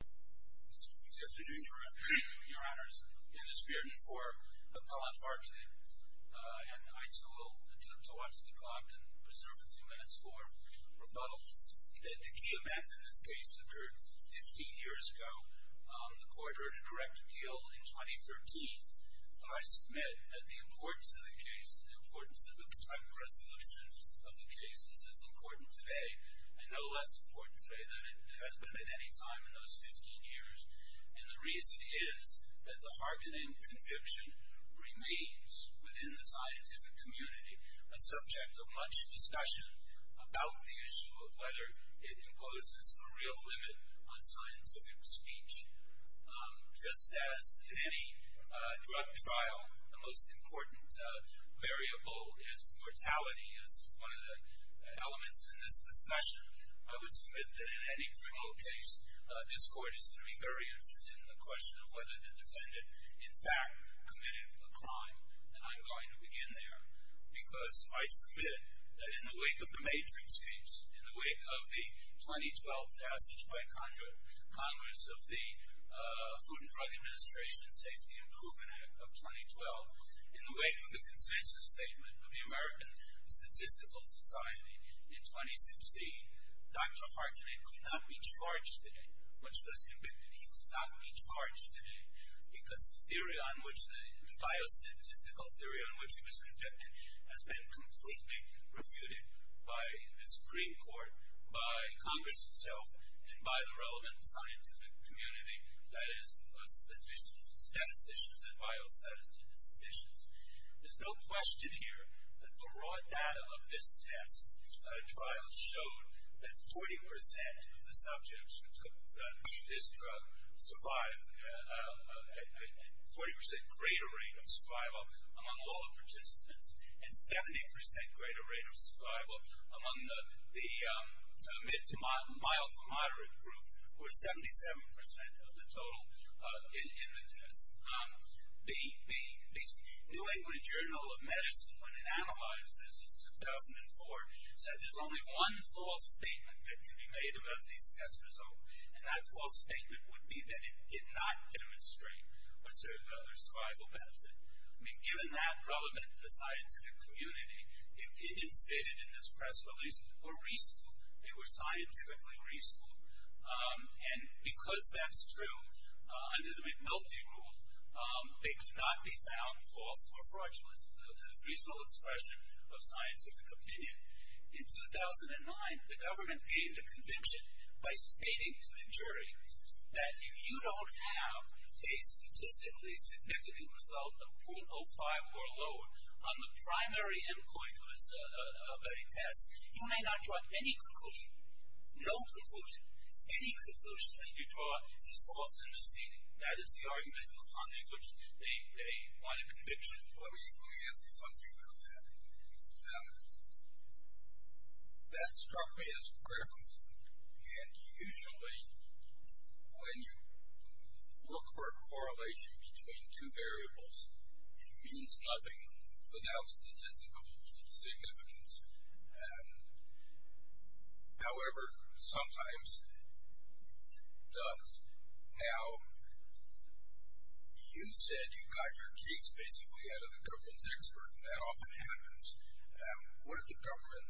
Good afternoon, your honors. Dennis Feardon for Appellant Harkonen, and I too will attempt to watch the clock and preserve a few minutes for rebuttal. The key event in this case occurred 15 years ago. The court heard a direct appeal in 2013. I submit that the importance of the case and the importance of the time of resolution of the case is as important today, and no less important today than it has been at any time in those 15 years. And the reason is that the Harkonen conviction remains within the scientific community a subject of much discussion about the issue of whether it imposes a real limit on scientific speech. Just as in any drug trial, the most important variable is mortality as one of the elements in this discussion, I would submit that in any criminal case, this court is going to be very interested in the question of whether the defendant in fact committed a crime. And I'm going to begin there, because I submit that in the wake of the Matrix case, in the wake of the 2012 passage by Congress of the Food and Drug Administration Safety Improvement Act of 2012, in the wake of the consensus statement of the American Statistical Society in 2016, Dr. Harkonen could not be charged today, much less convicted. He could not be charged today, because the biostatistical theory on which he was convicted has been completely refuted by the Supreme Court, by Congress itself, and by the relevant scientific community, that is statisticians and biostatisticians. There's no question here that the raw data of this test trial showed that 40% of the subjects who took this drug survived a 40% greater rate of survival among all the participants, and 70% greater rate of survival among the mid to mild to moderate group, or 77% of the total in the test. The New England Journal of Medicine, when it analyzed this in 2004, said there's only one false statement that can be made about these test results, and that false statement would be that it did not demonstrate a certain level of survival benefit. I mean, given that relevant scientific community, the opinions stated in this press release were reasonable. They were scientifically reasonable. And because that's true, under the McNulty rule, they could not be found false or fraudulent, to the reasonable expression of scientific opinion. In 2009, the government gave the conviction by stating to the jury that if you don't have a statistically significant result of .05 or lower on the primary endpoint of a test, you may not draw any conclusion, no conclusion. Any conclusion that you draw is false in this statement. That is the argument upon which they want a conviction. Let me ask you something about that. That struck me as critical, and usually when you look for a correlation between two variables, it means nothing without statistical significance. However, sometimes it does. Now, you said you got your case basically out of the government's expert, and that often happens. What did the government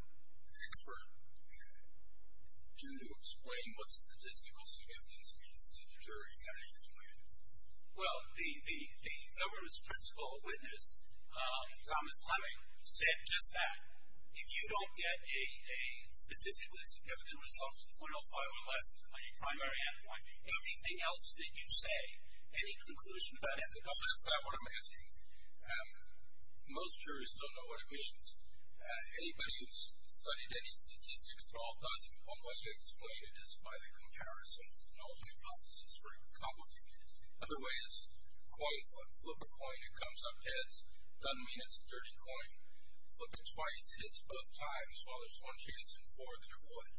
expert do to explain what statistical significance means to the jury? How did he explain it? Well, the government's principal witness, Thomas Fleming, said just that. If you don't get a statistically significant result to the .05 or less on your primary endpoint, anything else that you say, any conclusion about evidence? No, that's not what I'm asking. Most jurors don't know what it means. Anybody who's studied any statistics at all doesn't. One way to explain it is by the comparison. It's an alternate hypothesis for your complicity. Another way is coin flip. Flip a coin, it comes up heads. Done means it's a dirty coin. Flip it twice, hits both times. Well, there's one chance in four that it would.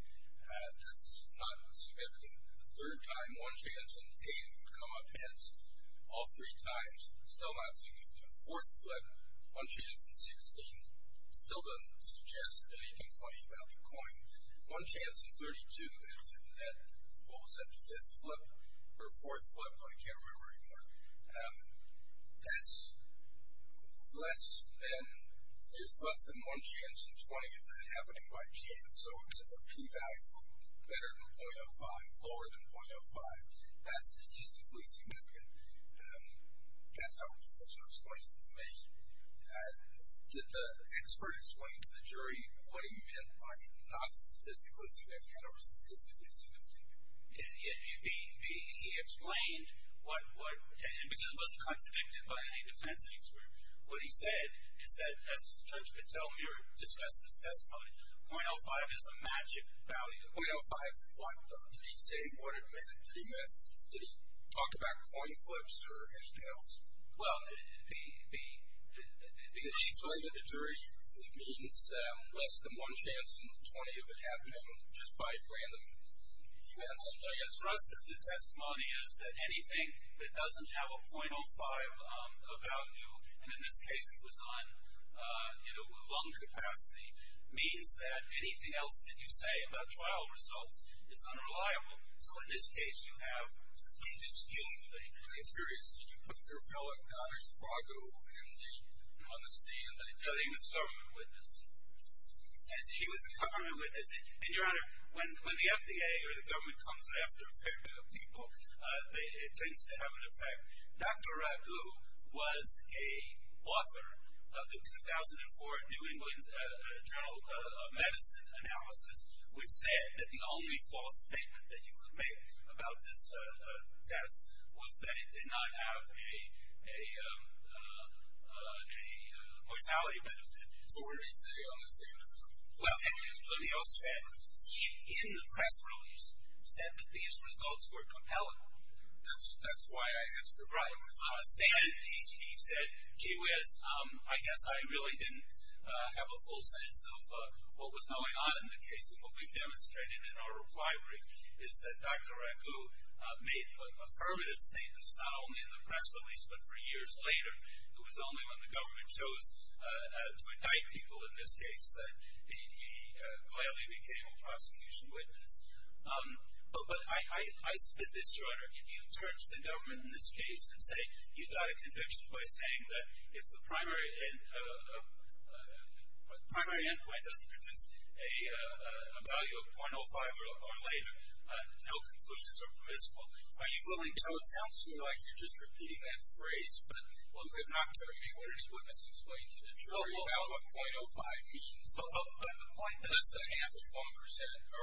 That's not significant. The third time, one chance in eight, it would come up heads all three times. Still not significant. Fourth flip, one chance in 16, still doesn't suggest anything funny about the coin. One chance in 32, what was that, the fifth flip or fourth flip? I can't remember anymore. That's less than one chance in 20. It's happening by chance. So it's a p-value better than 0.05, lower than 0.05. That's statistically significant. That's how the first explanation is made. Did the expert explain to the jury what he meant by not statistically significant or statistically significant? He explained what he said because he wasn't contradicted by any defense expert. What he said is that, as the judge could tell me or discuss this testimony, 0.05 is a matching value. 0.05, did he say what it meant? Did he talk about coin flips or anything else? Well, because he explained to the jury, it means less than one chance in 20 of it happening just by random events. I guess the rest of the testimony is that anything that doesn't have a 0.05 value, and in this case it was on lung capacity, means that anything else that you say about trial results is unreliable. So in this case, you have indisputably. I'm curious, did you put your fellow, Dr. Raghu, on the stand? No, he was a government witness. He was a government witness. And, Your Honor, when the FDA or the government comes after a fair bit of people, it tends to have an effect. Dr. Raghu was a author of the 2004 New England Journal of Medicine analysis, which said that the only false statement that you could make about this test was that it did not have a mortality benefit. But what did he say on the stand? Well, let me also add, he, in the press release, said that these results were compelling. That's why I asked the question. He said, gee whiz, I guess I really didn't have a full sense of what was going on in the case, and what we've demonstrated in our reply brief is that Dr. Raghu made affirmative statements not only in the press release but for years later. It was only when the government chose to indict people in this case that he clearly became a prosecution witness. But I submit this, Your Honor. If you turn to the government in this case and say you got a conviction by saying that if the primary end point doesn't produce a value of .05 or later, no conclusions are permissible, are you willing to tell it sounds to me like you're just repeating that phrase? Well, you have not told me what any witness explained to me. I'm sorry about what .05 means. But the point is the half of 1%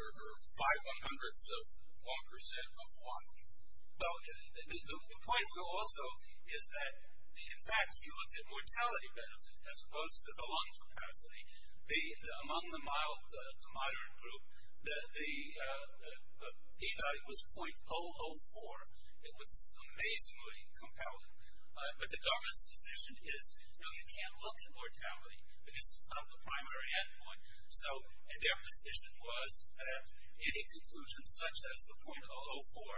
or five hundredths of 1% of what? Well, the point here also is that, in fact, you looked at mortality benefit as opposed to the lung capacity. Among the moderate group, the P value was .004. It was amazingly compelling. But the government's position is, no, you can't look at mortality because it's not the primary end point. So their position was that any conclusion such as the .004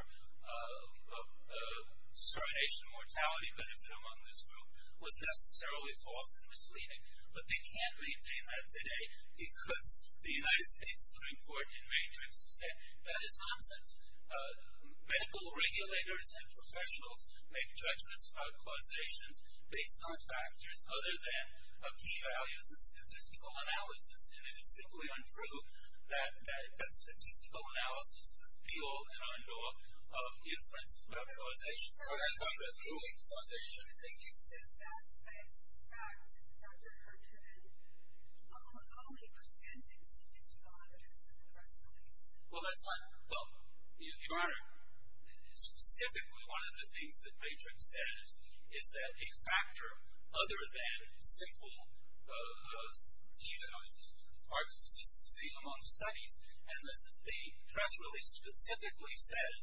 serenation mortality benefit among this group was necessarily false and misleading, but they can't maintain that today because the United States medical regulators and professionals make judgments about causations based on factors other than P values and statistical analysis. And it is simply untrue that statistical analysis is the be-all and end-all of inference about causation. So you think it says that, in fact, Dr. Herndon only presented statistical evidence in the press release? Well, that's not the point. Your Honor, specifically one of the things that Matrix says is that a factor other than simple human analysis are consistent among studies. And the press release specifically says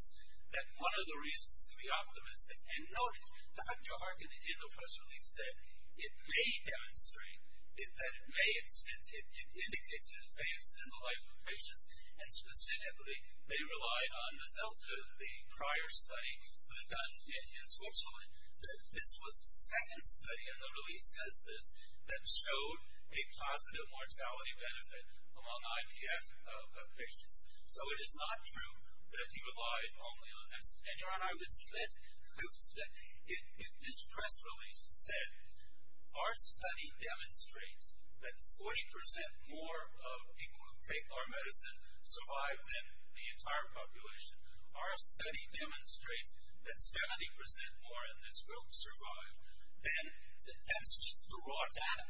that one of the reasons to be optimistic and notice the fact that Herndon, in the press release, said it may demonstrate that it indicates an advance in the life of patients and specifically they relied on the prior study done in Switzerland. This was the second study, and the release says this, that showed a positive mortality benefit among IPF patients. So it is not true that he relied only on that. And, Your Honor, I would submit that this press release said our study demonstrates that 40% more people who take our medicine survive than the entire population. Our study demonstrates that 70% more in this group survive. Then that's just the raw data.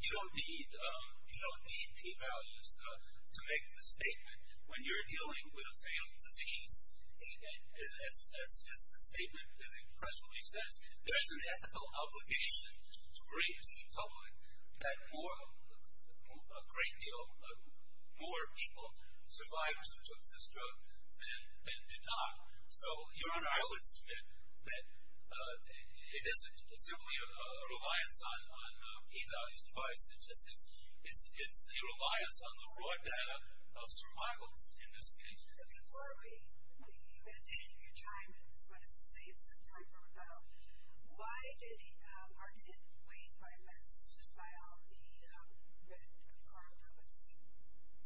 You don't need p-values to make the statement. When you're dealing with a failed disease, as the statement in the press release says, there is an ethical obligation to the greatest of the public that more, a great deal, more people survived who took this drug than did not. So, Your Honor, I would submit that it isn't simply a reliance on p-values and prior statistics. It's a reliance on the raw data of survivors in this case. Before we leave and take your time and just want to save some time for rebuttal, why did our candidate wait five months to file the red card? Let's see.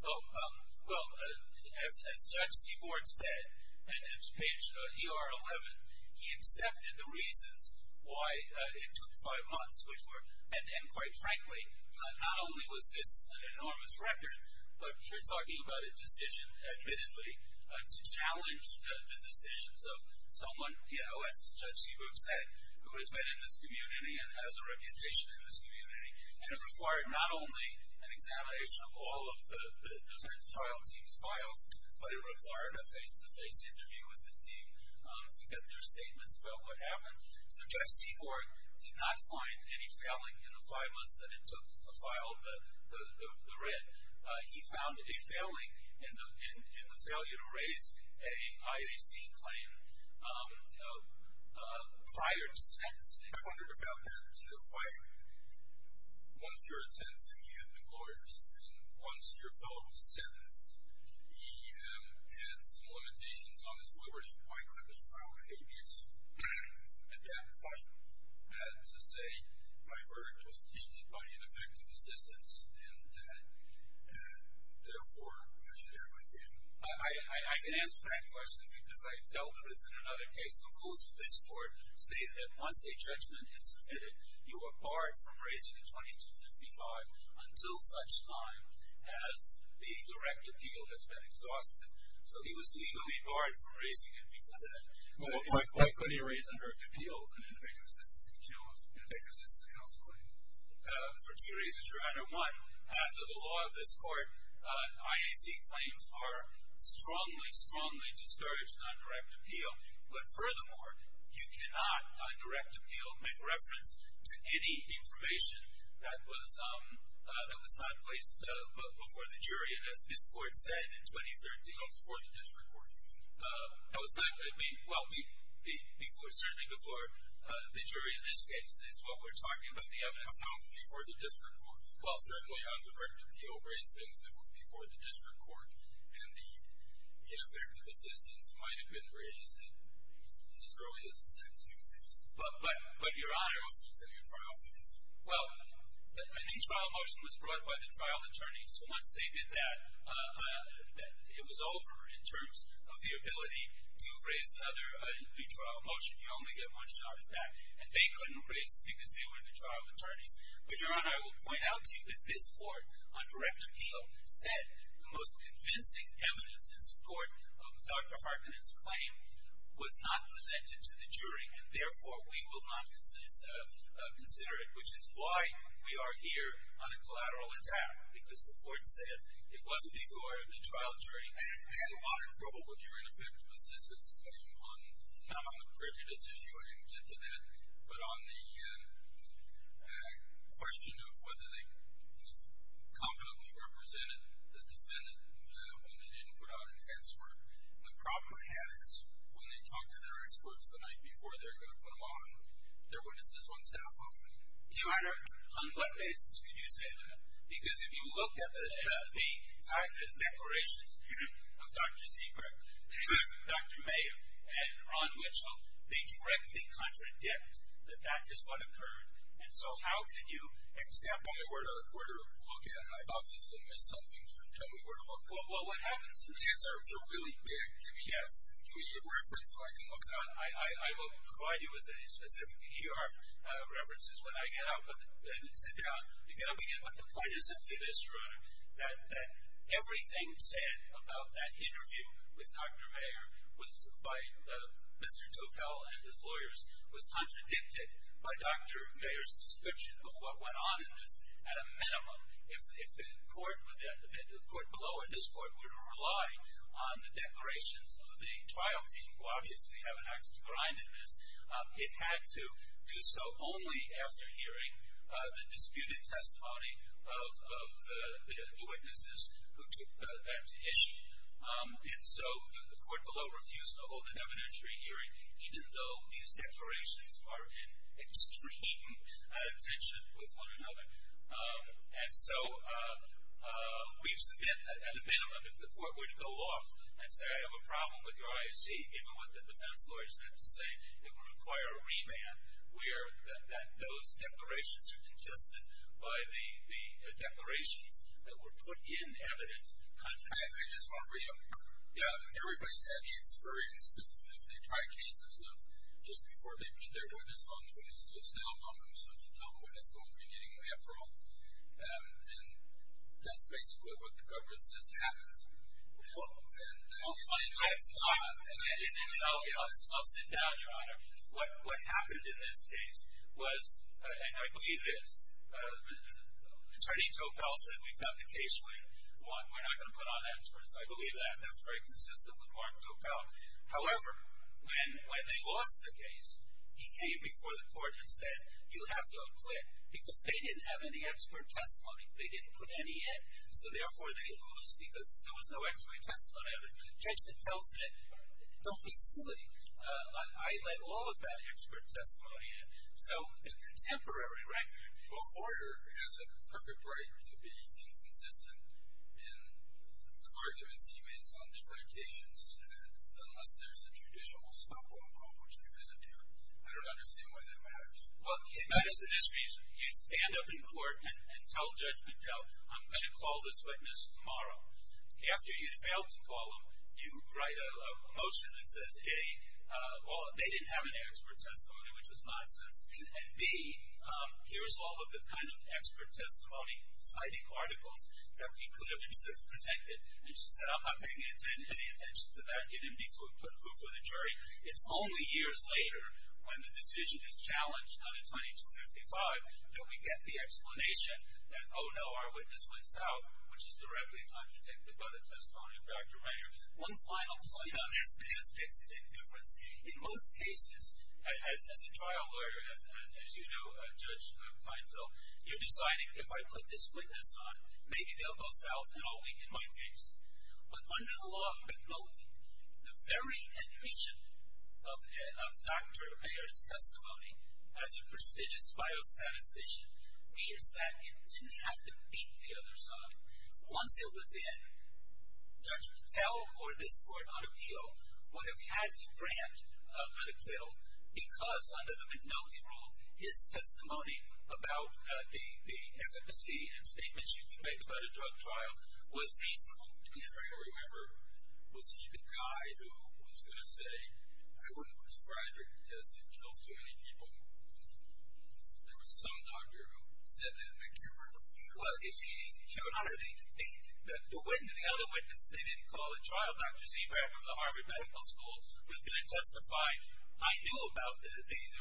Well, as Judge Seaborn said, and it's page ER11, he accepted the reasons why it took five months, which were, and quite frankly, not only was this an enormous record, but you're talking about a decision, admittedly, to challenge the decisions of someone, as Judge Seaborn said, who has been in this community and has a reputation in this community, and it required not only an examination of all of the different trial teams' files, but it required a face-to-face interview with the team to get their statements about what happened. So, Judge Seaborn did not find any failing in the five months that it took to file the red. He found a failing in the failure to raise an IAC claim prior to sentencing. I wondered about that. So, if I, once you were in sentencing, you had been glorious, and once your fellow was sentenced, he had some limitations on his liberty. Why couldn't he file an habeas suit? At that point, I had to say my verdict was teased by ineffective assistance, and therefore I should err in my favor. I can answer that question because I've dealt with this in another case. The rules of this court say that once a judgment is submitted, you are barred from raising a 2255 until such time as the direct appeal has been exhausted. So, he was legally barred from raising it because of that. Why couldn't he raise a direct appeal, an ineffective assistance counsel claim? For two reasons, Your Honor. One, under the law of this court, IAC claims are strongly, strongly discouraged on direct appeal. But furthermore, you cannot, on direct appeal, make reference to any information that was not placed before the jury. And as this court said in 2013. Oh, before the district court. That was not. Well, certainly before the jury in this case is what we're talking about. But the evidence. No, before the district court. Well, certainly on direct appeal, before the district court and the ineffective assistance might have been raised as early as the second suit case. But, but, but Your Honor, what about the trial phase? Well, an e-trial motion was brought by the trial attorneys. Once they did that, it was over in terms of the ability to raise another e-trial motion. You only get one shot at that. And they couldn't raise it because they were the trial attorneys. But Your Honor, I will point out to you that this court, on direct appeal, said the most convincing evidence in support of Dr. Harkin's claim was not presented to the jury. And therefore, we will not consider it. Which is why we are here on a collateral attack. Because the court said it wasn't before the trial jury. Your Honor, I had a lot of trouble with your ineffective assistance claim. Not on the prejudice issue. I didn't get to that. But on the question of whether they have competently represented the defendant when they didn't put out an answer. And the problem I had is when they talk to their experts the night before they're going to put them on, their witnesses won't step up. Your Honor, on what basis could you say that? Because if you look at the declarations of Dr. Seabright, Dr. May, and Ron Mitchell, they directly contradict that that is what occurred. And so how can you example? If I were to look at it, I'd obviously miss something. Tell me where to look. Well, what happens? The answers are really big. Give me a reference so I can look at it. I will provide you with specific ER references when I get out and sit down. But the point is this, Your Honor, that everything said about that interview with Dr. Mayer by Mr. Topel and his lawyers was contradicted by Dr. Mayer's description of what went on in this at a minimum. If the court below or this court were to rely on the declarations of the trial team, who obviously have an axe to grind in this, it had to do so only after hearing the disputed testimony of the witnesses who took that issue. And so the court below refused to hold an evidentiary hearing, even though these declarations are in extreme tension with one another. And so we submit that, at a minimum, if the court were to go off and say, I have a problem with your IOC, given what the defense lawyers have to say, it would require a remand where those declarations are contested by the declarations that were put in evidence. I just want to read them. Yeah. Everybody's had the experience if they try cases of just before they put their witness on, the witness goes silent on them, so you tell the witness, well, we're getting them after all. And that's basically what the government says happens. I'll sit down, Your Honor. What happened in this case was, and I believe it is, Attorney Topel said we've got the case waiting. We're not going to put on experts. I believe that. That's very consistent with Mark Topel. However, when they lost the case, he came before the court and said, you have to acquit because they didn't have any expert testimony. They didn't put any in. So, therefore, they lose because there was no expert testimony of it. The judge then tells him, don't be silly. I let all of that expert testimony in. So, the contemporary record. Well, a lawyer has a perfect right to be inconsistent in the arguments he makes on different occasions, unless there's a judicial slope on the problem, which there isn't here. I don't understand why that matters. Well, it matters in this case. You stand up in court and tell Judge Goodtell, I'm going to call this witness tomorrow. After you fail to call them, you write a motion that says, A, well, they didn't have any expert testimony, which is nonsense, and, B, here's all of the kind of expert testimony, citing articles that we could have presented. And she said, I'm not paying any attention to that. You didn't put proof of the jury. It's only years later, when the decision is challenged on a 2255, that we get the explanation that, oh, no, our witness went south, which is directly contradicted by the testimony of Dr. Reiner. One final point on this. This makes a big difference. In most cases, as a trial lawyer, as you know, Judge Teinfeld, you're deciding, if I put this witness on, maybe they'll go south and I'll weaken my case. But under the law of McNulty, the very admission of Dr. Reiner's testimony, as a prestigious biostatistician, means that you didn't have to beat the other side. Once he was in, Judge Goodtell or this court on appeal would have had to grant a medical, because under the McNulty rule, his testimony about the efficacy and statements you can make about a drug trial was peaceful. And if I can remember, was he the guy who was going to say, I wouldn't prescribe it because it kills too many people? There was some doctor who said that in that case. Well, if he showed up, the other witness they didn't call at trial, Dr. Seabright from the Harvard Medical School, was going to testify. I knew about the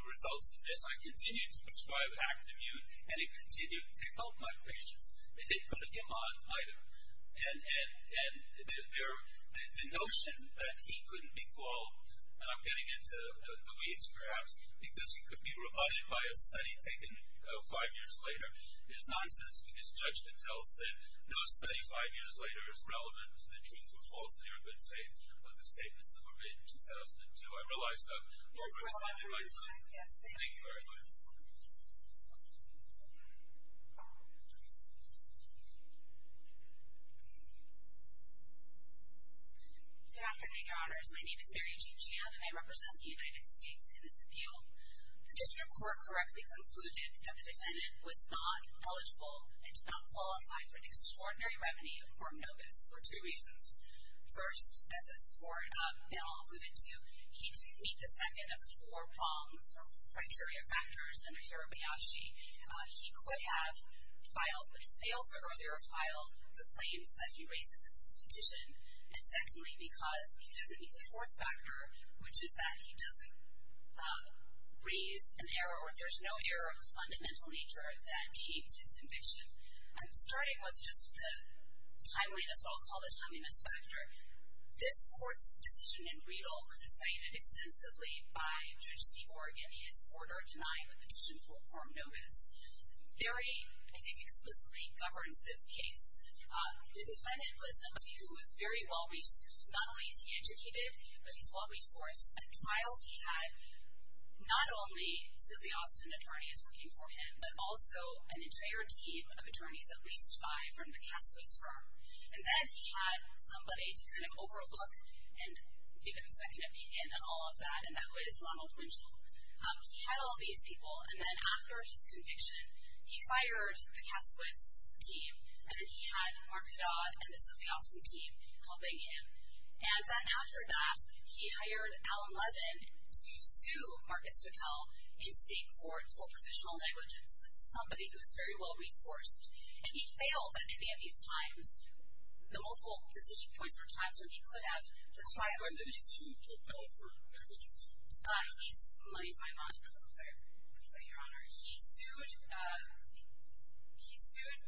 results of this. So I continued to prescribe Act-Immune, and it continued to help my patients. They didn't put him on either. And the notion that he couldn't be called, and I'm getting into the weeds perhaps, because he could be rebutted by a study taken five years later is nonsense, because Judge Goodtell said no study five years later is relevant to the truth or falsity or good faith of the statements that were made in 2002. I realize that. Thank you very much. Good afternoon, Your Honors. My name is Mary Jean Chan, and I represent the United States in this appeal. The district court correctly concluded that the defendant was not eligible and did not qualify for the extraordinary revenue of Corm Novus for two reasons. First, as this court now alluded to, he didn't meet the second of four prongs or criteria factors under Hirabayashi. He could have filed, but he failed to earlier file the claims that he raised in his petition. And secondly, because he doesn't meet the fourth factor, which is that he doesn't raise an error or there's no error of a fundamental nature that gains his conviction. I'm starting with just the timeliness, what I'll call the timeliness factor. This court's decision in Riedel was decided extensively by Judge Seaborg in his order denying the petition for Corm Novus. Barry, I think, explicitly governs this case. The defendant was somebody who was very well-resourced. Not only is he educated, but he's well-resourced. A trial he had not only Sylvia Austin, attorney who's working for him, but also an entire team of attorneys, at least five from the Kasputz firm. And then he had somebody to kind of overlook and give him a second opinion and all of that, and that was Ronald Winchell. He had all these people, and then after his conviction, he fired the Kasputz team, and then he had Mark Dodd and the Sylvia Austin team helping him. And then after that, he hired Alan Levin to sue Marcus Tickell in state court for provisional negligence, somebody who is very well-resourced. And he failed at any of these times. The multiple decision points were times when he could have declined. When did he sue Tickell for negligence? Let me find out. Your Honor, he sued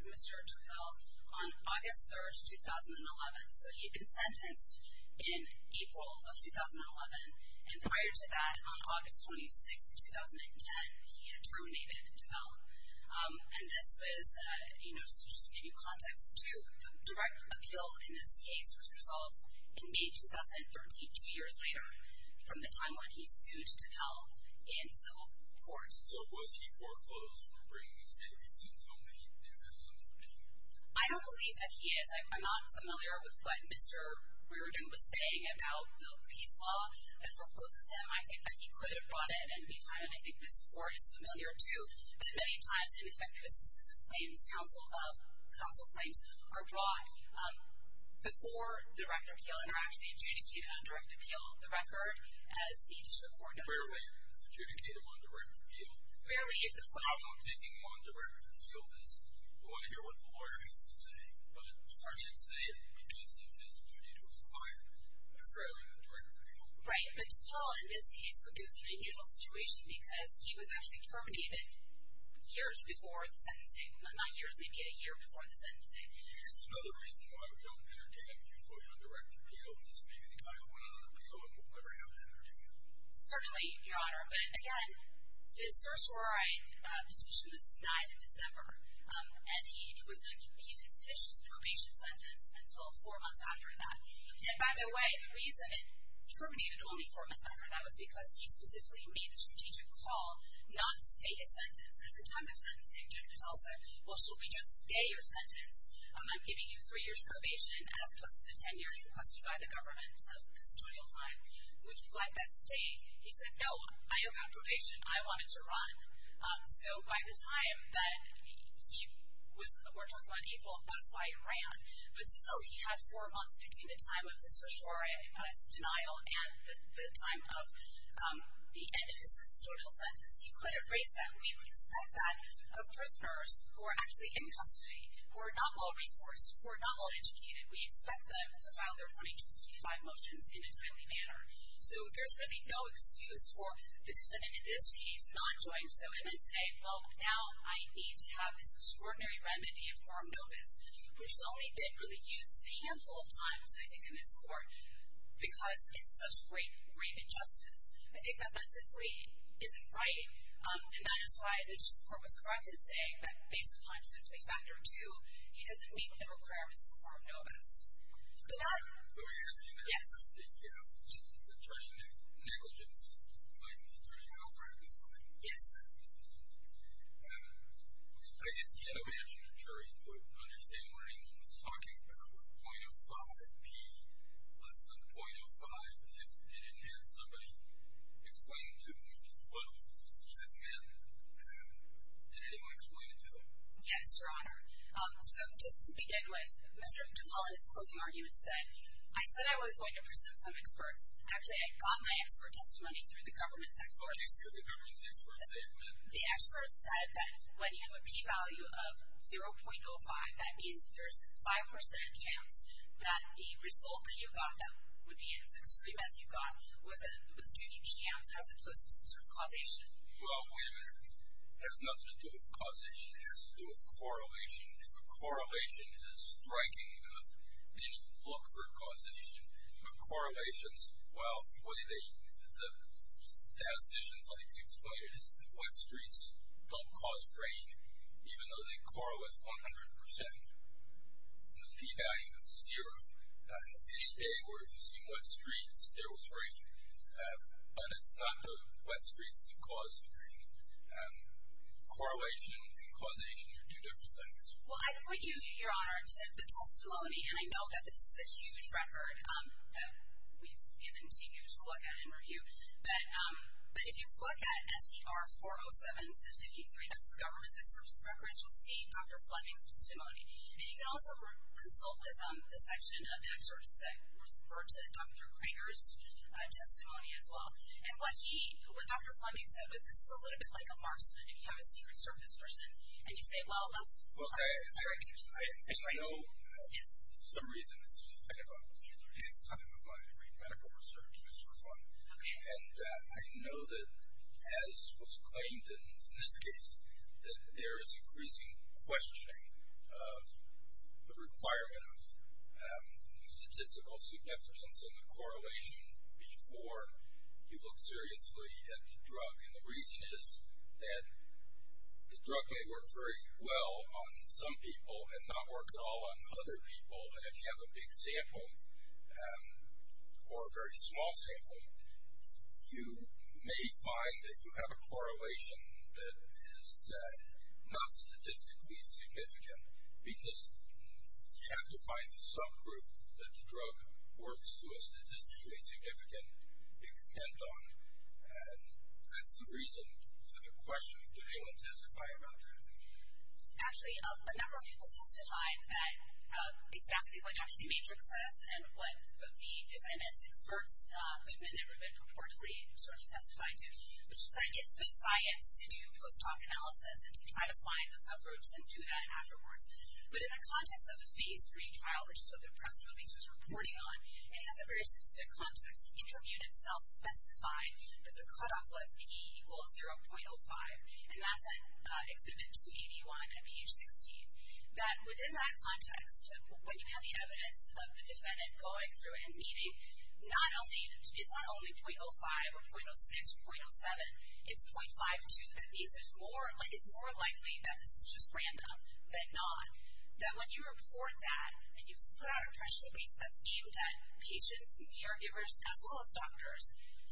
Mr. Tickell on August 3, 2011. So he had been sentenced in April of 2011, and prior to that, on August 26, 2010, he had terminated Tickell. And this was, you know, just to give you context, too, the direct appeal in this case was resolved in May 2013, two years later, from the time when he sued Tickell in civil court. So was he foreclosed for bringing his innocence until May 2013? I don't believe that he is. I'm not familiar with what Mr. Reardon was saying about the peace law that forecloses him. I think that he could have brought it any time, and I think this Court is familiar, too, that many times ineffective assistance of claims, counsel claims, are brought before the direct appeal and are actually adjudicated on direct appeal of the record as the district court does. Rarely adjudicated on direct appeal. Rarely. The problem with taking them on direct appeal is you want to hear what the lawyer has to say, but if I may say it, because of his duty to his client, rarely on direct appeal. But Tickell, in this case, was in an unusual situation because he was actually terminated years before the sentencing, not years, maybe a year before the sentencing. It's another reason why we don't entertain usually on direct appeal because maybe the guy who went on appeal and we'll never have to entertain him. But, again, the search warrant petition was denied in December, and he didn't finish his probation sentence until four months after that. And, by the way, the reason it terminated only four months after that was because he specifically made a strategic call not to stay his sentence. And at the time of sentencing, Judge Patel said, well, should we just stay your sentence? I'm giving you three years probation, as opposed to the ten years requested by the government of custodial time. He said, no, I have got probation. I want it to run. So, by the time that he was, we're talking about April, that's why he ran. But, still, he had four months between the time of the search warrant denial and the time of the end of his custodial sentence. He could have raised that. We would expect that of prisoners who are actually in custody, who are not well-resourced, who are not well-educated. We expect them to file their 2255 motions in a timely manner. So, there's really no excuse for the defendant, in this case, not doing so, and then say, well, now I need to have this extraordinary remedy of quorum novis, which has only been really used a handful of times, I think, in this court, because it's such grave injustice. I think that that simply isn't right, and that is why the court was corrected saying that, based upon a specific factor of two, he doesn't meet the requirements for quorum novis. But that, yes. Attorney negligence. I'm an attorney who operated this claim. Yes. I just can't imagine a jury who would understand what anyone was talking about with .05p, less than .05, if they didn't have somebody explain to them what was said then. Did anyone explain it to them? Yes, Your Honor. So, just to begin with, Mr. DuPont, in his closing argument, he said, I said I was going to present some experts. Actually, I got my expert testimony through the government's experts. So he said the government's experts said what? The experts said that when you have a p-value of 0.05, that means there's 5% chance that the result that you got, that would be as extreme as you got, was due to chance, as opposed to some sort of causation. Well, wait a minute. It has nothing to do with causation. It has to do with correlation. If a correlation is striking enough, then you look for a causation. But correlations, well, the way the statisticians like to explain it is that wet streets don't cause rain, even though they correlate 100%. The p-value is 0. Any day where you see wet streets, there was rain. Correlation and causation are two different things. Well, I point you, Your Honor, to the testimony, and I know that this is a huge record that we've given to you to look at and review, but if you look at S.E.R. 407-53, that's the government's experts' records, you'll see Dr. Fleming's testimony. And you can also consult with the section of the experts that refer to Dr. Kramer's testimony as well. And what he, what Dr. Fleming said was, this is a little bit like a marksman if you have a Secret Service person, and you say, well, let's try. Well, I know for some reason, it's just kind of a pastime of mine to read medical research just for fun. Okay. And I know that, as was claimed in this case, that there is increasing questioning of the requirement of statistical significance and the correlation before you look seriously at the drug. And the reason is that the drug may work very well on some people and not work at all on other people. And if you have a big sample or a very small sample, you may find that you have a correlation that is not statistically significant because you have to find the subgroup that the drug works to a statistically significant extent on. And that's the reason for the question. Did anyone testify about that? Actually, a number of people testified that exactly what actually the matrix says and what the defendants' experts, who have been interviewed reportedly, sort of testified to, which is that it's good science to do post hoc analysis and to try to find the subgroups and do that afterwards. But in the context of the Phase 3 trial, which is what the press release was reporting on, it has a very specific context. Interim units self-specified that the cutoff was P equals 0.05, and that's at Exhibit 281 at page 16. That within that context, when you have the evidence of the defendant going through and meeting, it's not only 0.05 or 0.06, 0.07, it's 0.52. It means it's more likely that this is just random than not, that when you report that and you put out a press release that's aimed at patients and caregivers as well as doctors,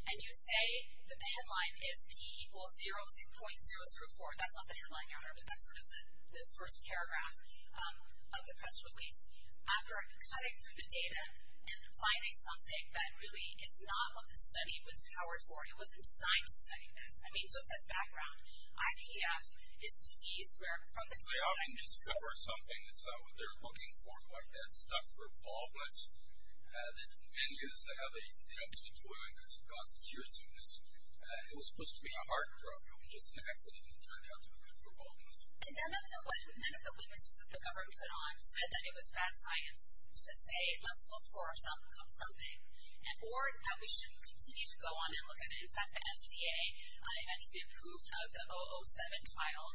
and you say that the headline is P equals 0.034, that's not the headline, however, that's sort of the first paragraph of the press release. After cutting through the data and finding something that really is not what the study was powered for, it wasn't designed to study this. I mean, just as background, IPF is a disease where from the time that they often discover something that's not what they're looking for, like that stuff for baldness, that men use to have a, you know, give it to women because it causes searsomeness, it was supposed to be a heart drug, and it just accidentally turned out to be good for baldness. And none of the witnesses that the government put on said that it was bad science to say let's look for something, or that we shouldn't continue to go on and look at it. And they eventually approved of the 007 trial,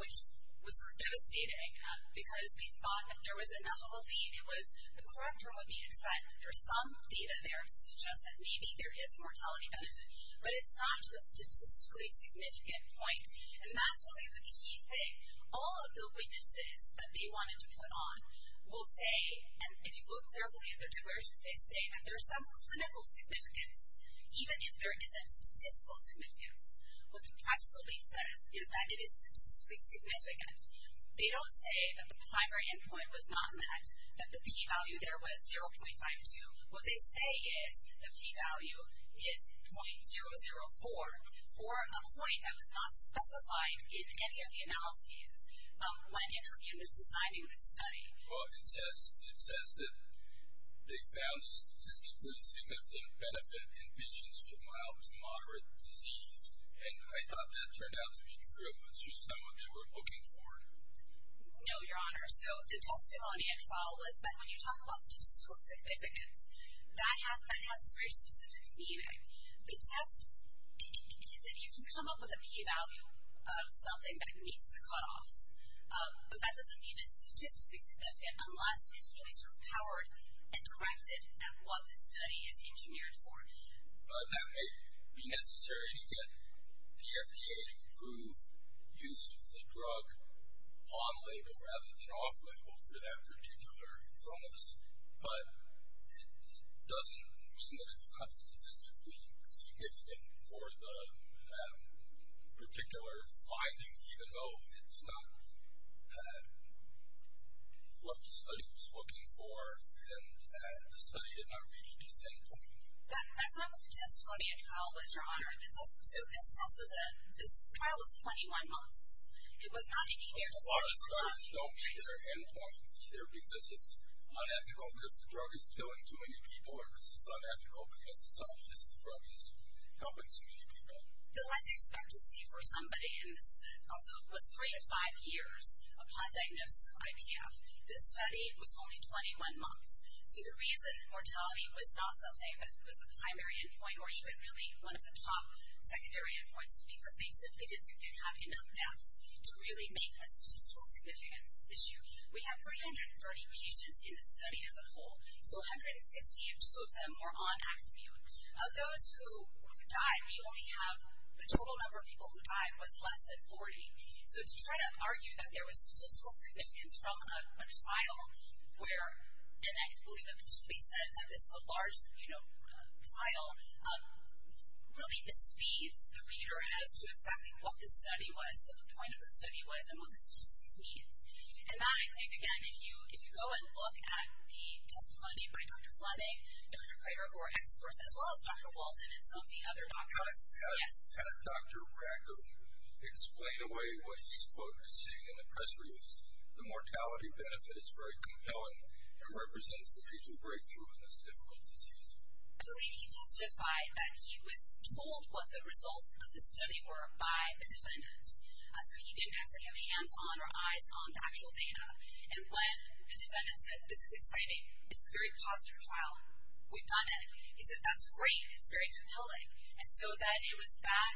which was sort of devastating, because they thought that there was enough of a lead, it was the corrector would be a threat. There's some data there to suggest that maybe there is a mortality benefit, but it's not a statistically significant point, and that's really the key thing. All of the witnesses that they wanted to put on will say, and if you look carefully at their diversions, they say that there's some clinical significance, even if there isn't statistical significance. What they practically said is that it is statistically significant. They don't say that the primary endpoint was not met, that the p-value there was 0.52. What they say is the p-value is .004, or a point that was not specified in any of the analyses when Interim was designing this study. Well, it says that they found a statistically significant benefit in patients with mild to moderate disease, and I thought that turned out to be true. Is this not what they were looking for? No, Your Honor. So the testimony at trial was that when you talk about statistical significance, that has this very specific meaning. We test that you can come up with a p-value of something that meets the cutoff, but that doesn't mean it's statistically significant unless it's really sort of powered and directed at what the study is engineered for. That may be necessary to get the FDA to approve use of the drug on-label rather than off-label for that particular illness, but it doesn't mean that it's not statistically significant for the particular finding, even though it's not what the study was looking for and the study had not reached its end point. But that's not what the testimony at trial was, Your Honor. This trial was 21 months. It was not each year. A lot of studies don't meet their end point either because it's unethical because the drug is killing too many people or because it's unethical because it's obvious the drug is helping too many people. The life expectancy for somebody, and this was also 3 to 5 years upon diagnosis of IPF, this study was only 21 months. So the reason mortality was not something that was a primary end point or even really one of the top secondary end points was because they simply didn't think they'd have enough deaths to really make a statistical significance issue. We had 330 patients in the study as a whole, so 162 of them were on Actibute. Of those who died, we only have the total number of people who died was less than 40. So to try to argue that there was statistical significance from a trial where, and I believe that Bruce Lee says that this is a large trial, really misleads the reader as to exactly what the study was, what the point of the study was, and what the statistics means. And that, I think, again, if you go and look at the testimony by Dr. Fleming, Dr. Craver, who are experts, as well as Dr. Walton and some of the other doctors. How did Dr. Bracco explain away what he's quoted as saying in the press release? The mortality benefit is very compelling and represents the major breakthrough in this difficult disease. I believe he testified that he was told what the results of the study were by the defendant. So he didn't actually have hands on or eyes on the actual data. And when the defendant said, this is exciting. It's a very positive trial. We've done it. He said, that's great. It's very compelling. And so then it was that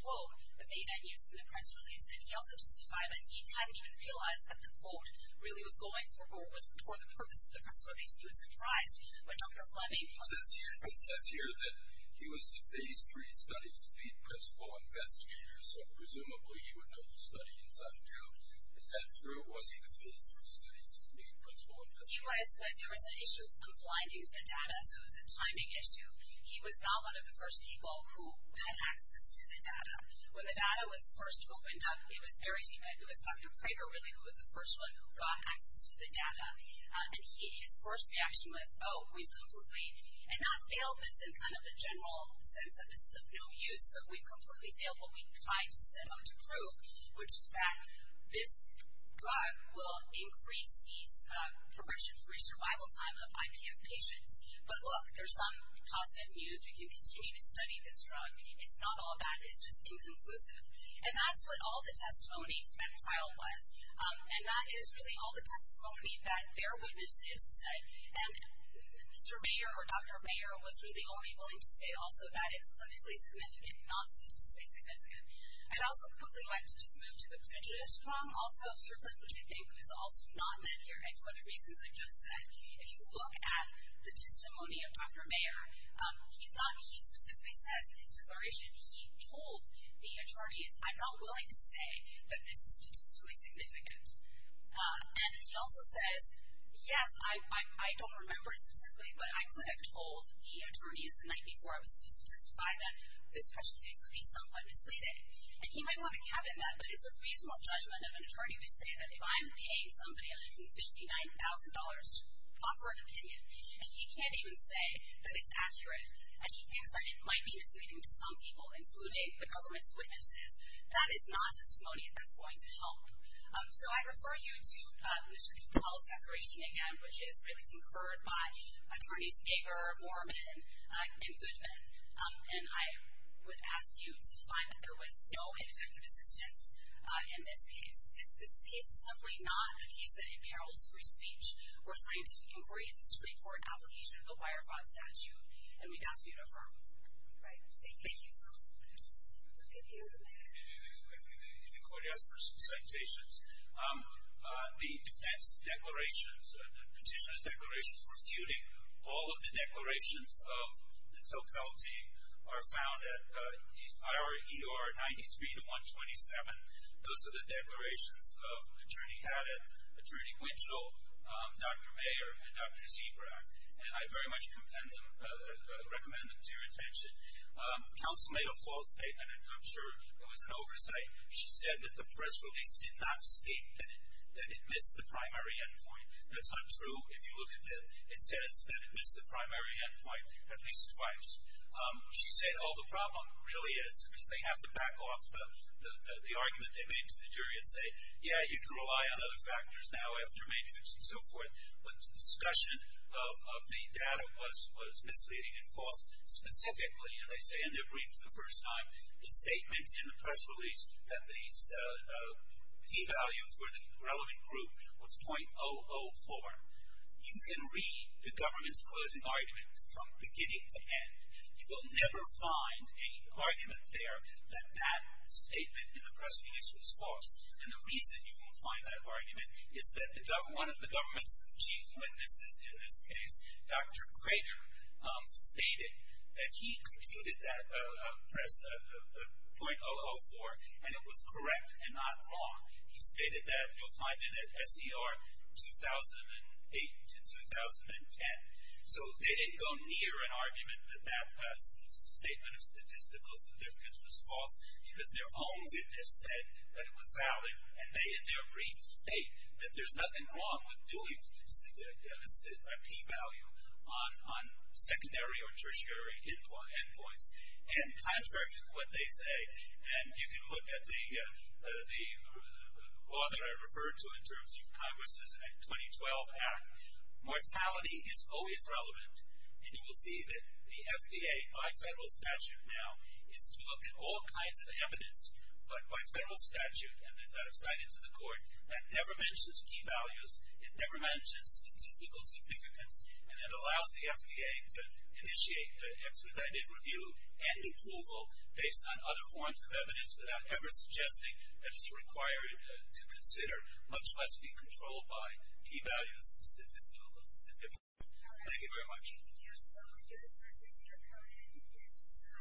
quote that they then used in the press release. And he also testified that he hadn't even realized that the quote really was going for or was for the purpose of the press release. He was surprised when Dr. Fleming. It says here that he was the phase three study's lead principal investigator. So presumably he would know the study inside and out. Is that true? Was he the phase three study's lead principal investigator? He was, but there was an issue with confining the data. So it was a timing issue. He was not one of the first people who had access to the data. When the data was first opened up, it was very humid. It was Dr. Craver, really, who was the first one who got access to the data. And his first reaction was, oh, we've completely, and not failed this in kind of a general sense that this is of no use, but we've completely failed what we tried to set out to prove, which is that this drug will increase the progression-free survival time of IPF patients. But look, there's some positive news. We can continue to study this drug. It's not all bad. It's just inconclusive. And that's what all the testimony from that trial was. And that is really all the testimony that their witnesses said. And Mr. Mayer or Dr. Mayer was really only willing to say also that it's clinically significant, not statistically significant. I'd also quickly like to just move to the prejudice from also Strickland, which I think was also not met here, and for the reasons I just said. If you look at the testimony of Dr. Mayer, he specifically says in his declaration, he told the attorneys, I'm not willing to say that this is statistically significant. And he also says, yes, I don't remember specifically, but I could have told the attorneys the night before I was supposed to testify that this prejudice could be somewhat misleading. And he might want to cabinet that, but it's a reasonable judgment of an attorney to say that if I'm paying somebody $1,059 to offer an opinion, and he can't even say that it's accurate, and he thinks that it might be misleading to some people, including the government's witnesses. That is not testimony that's going to help. So I refer you to Mr. Duke Hall's declaration again, which is really concurred by attorneys Ager, Moorman, and Goodman. And I would ask you to find that there was no ineffective assistance in this case. This case is simply not a case that imperils free speech or scientific inquiry. It's a straightforward application of the Wire 5 statute. And we'd ask you to affirm. All right. Thank you. Thank you. If you could ask for some citations. The defense declarations, the petitioner's declarations for feuding, all of the declarations of the Tocqueville team are found at IRER 93-127. Those are the declarations of Attorney Haddon, Attorney Winchell, Dr. Mayer, and Dr. Zebrack. And I very much recommend them to your attention. Counsel made a false statement, and I'm sure it was an oversight. She said that the press release did not state that it missed the primary endpoint. That's untrue if you look at it. It says that it missed the primary endpoint at least twice. She said, oh, the problem really is, because they have to back off the argument they made to the jury and say, yeah, you can rely on other factors now after matrix and so forth. But the discussion of the data was misleading and false. Specifically, and they say in their brief for the first time, the statement in the press release that the P value for the relevant group was .004. You can read the government's closing argument from beginning to end. You will never find an argument there that that statement in the press release was false. And the reason you won't find that argument is that one of the government's chief witnesses in this case, Dr. Grader, stated that he computed that press .004, and it was correct and not wrong. He stated that you'll find it at SER 2008 to 2010. So they didn't go near an argument that that statement of statistical significance was false because their own witness said that it was valid, and they, in their brief, state that there's nothing wrong with doing a P value on secondary or tertiary endpoints. And contrary to what they say, and you can look at the law that I referred to in terms of Congress' 2012 act, mortality is always relevant, and you will see that the FDA, by federal statute now, is to look at all kinds of evidence, but by federal statute, and they've got it cited to the court, that never mentions P values, it never mentions statistical significance, and it allows the FDA to initiate an expedited review and approval based on other forms of evidence without ever suggesting that it's required to consider, much less be controlled by, P values and statistical significance. Thank you very much. Thank you, counsel. U.S. nurses, your code is submitted.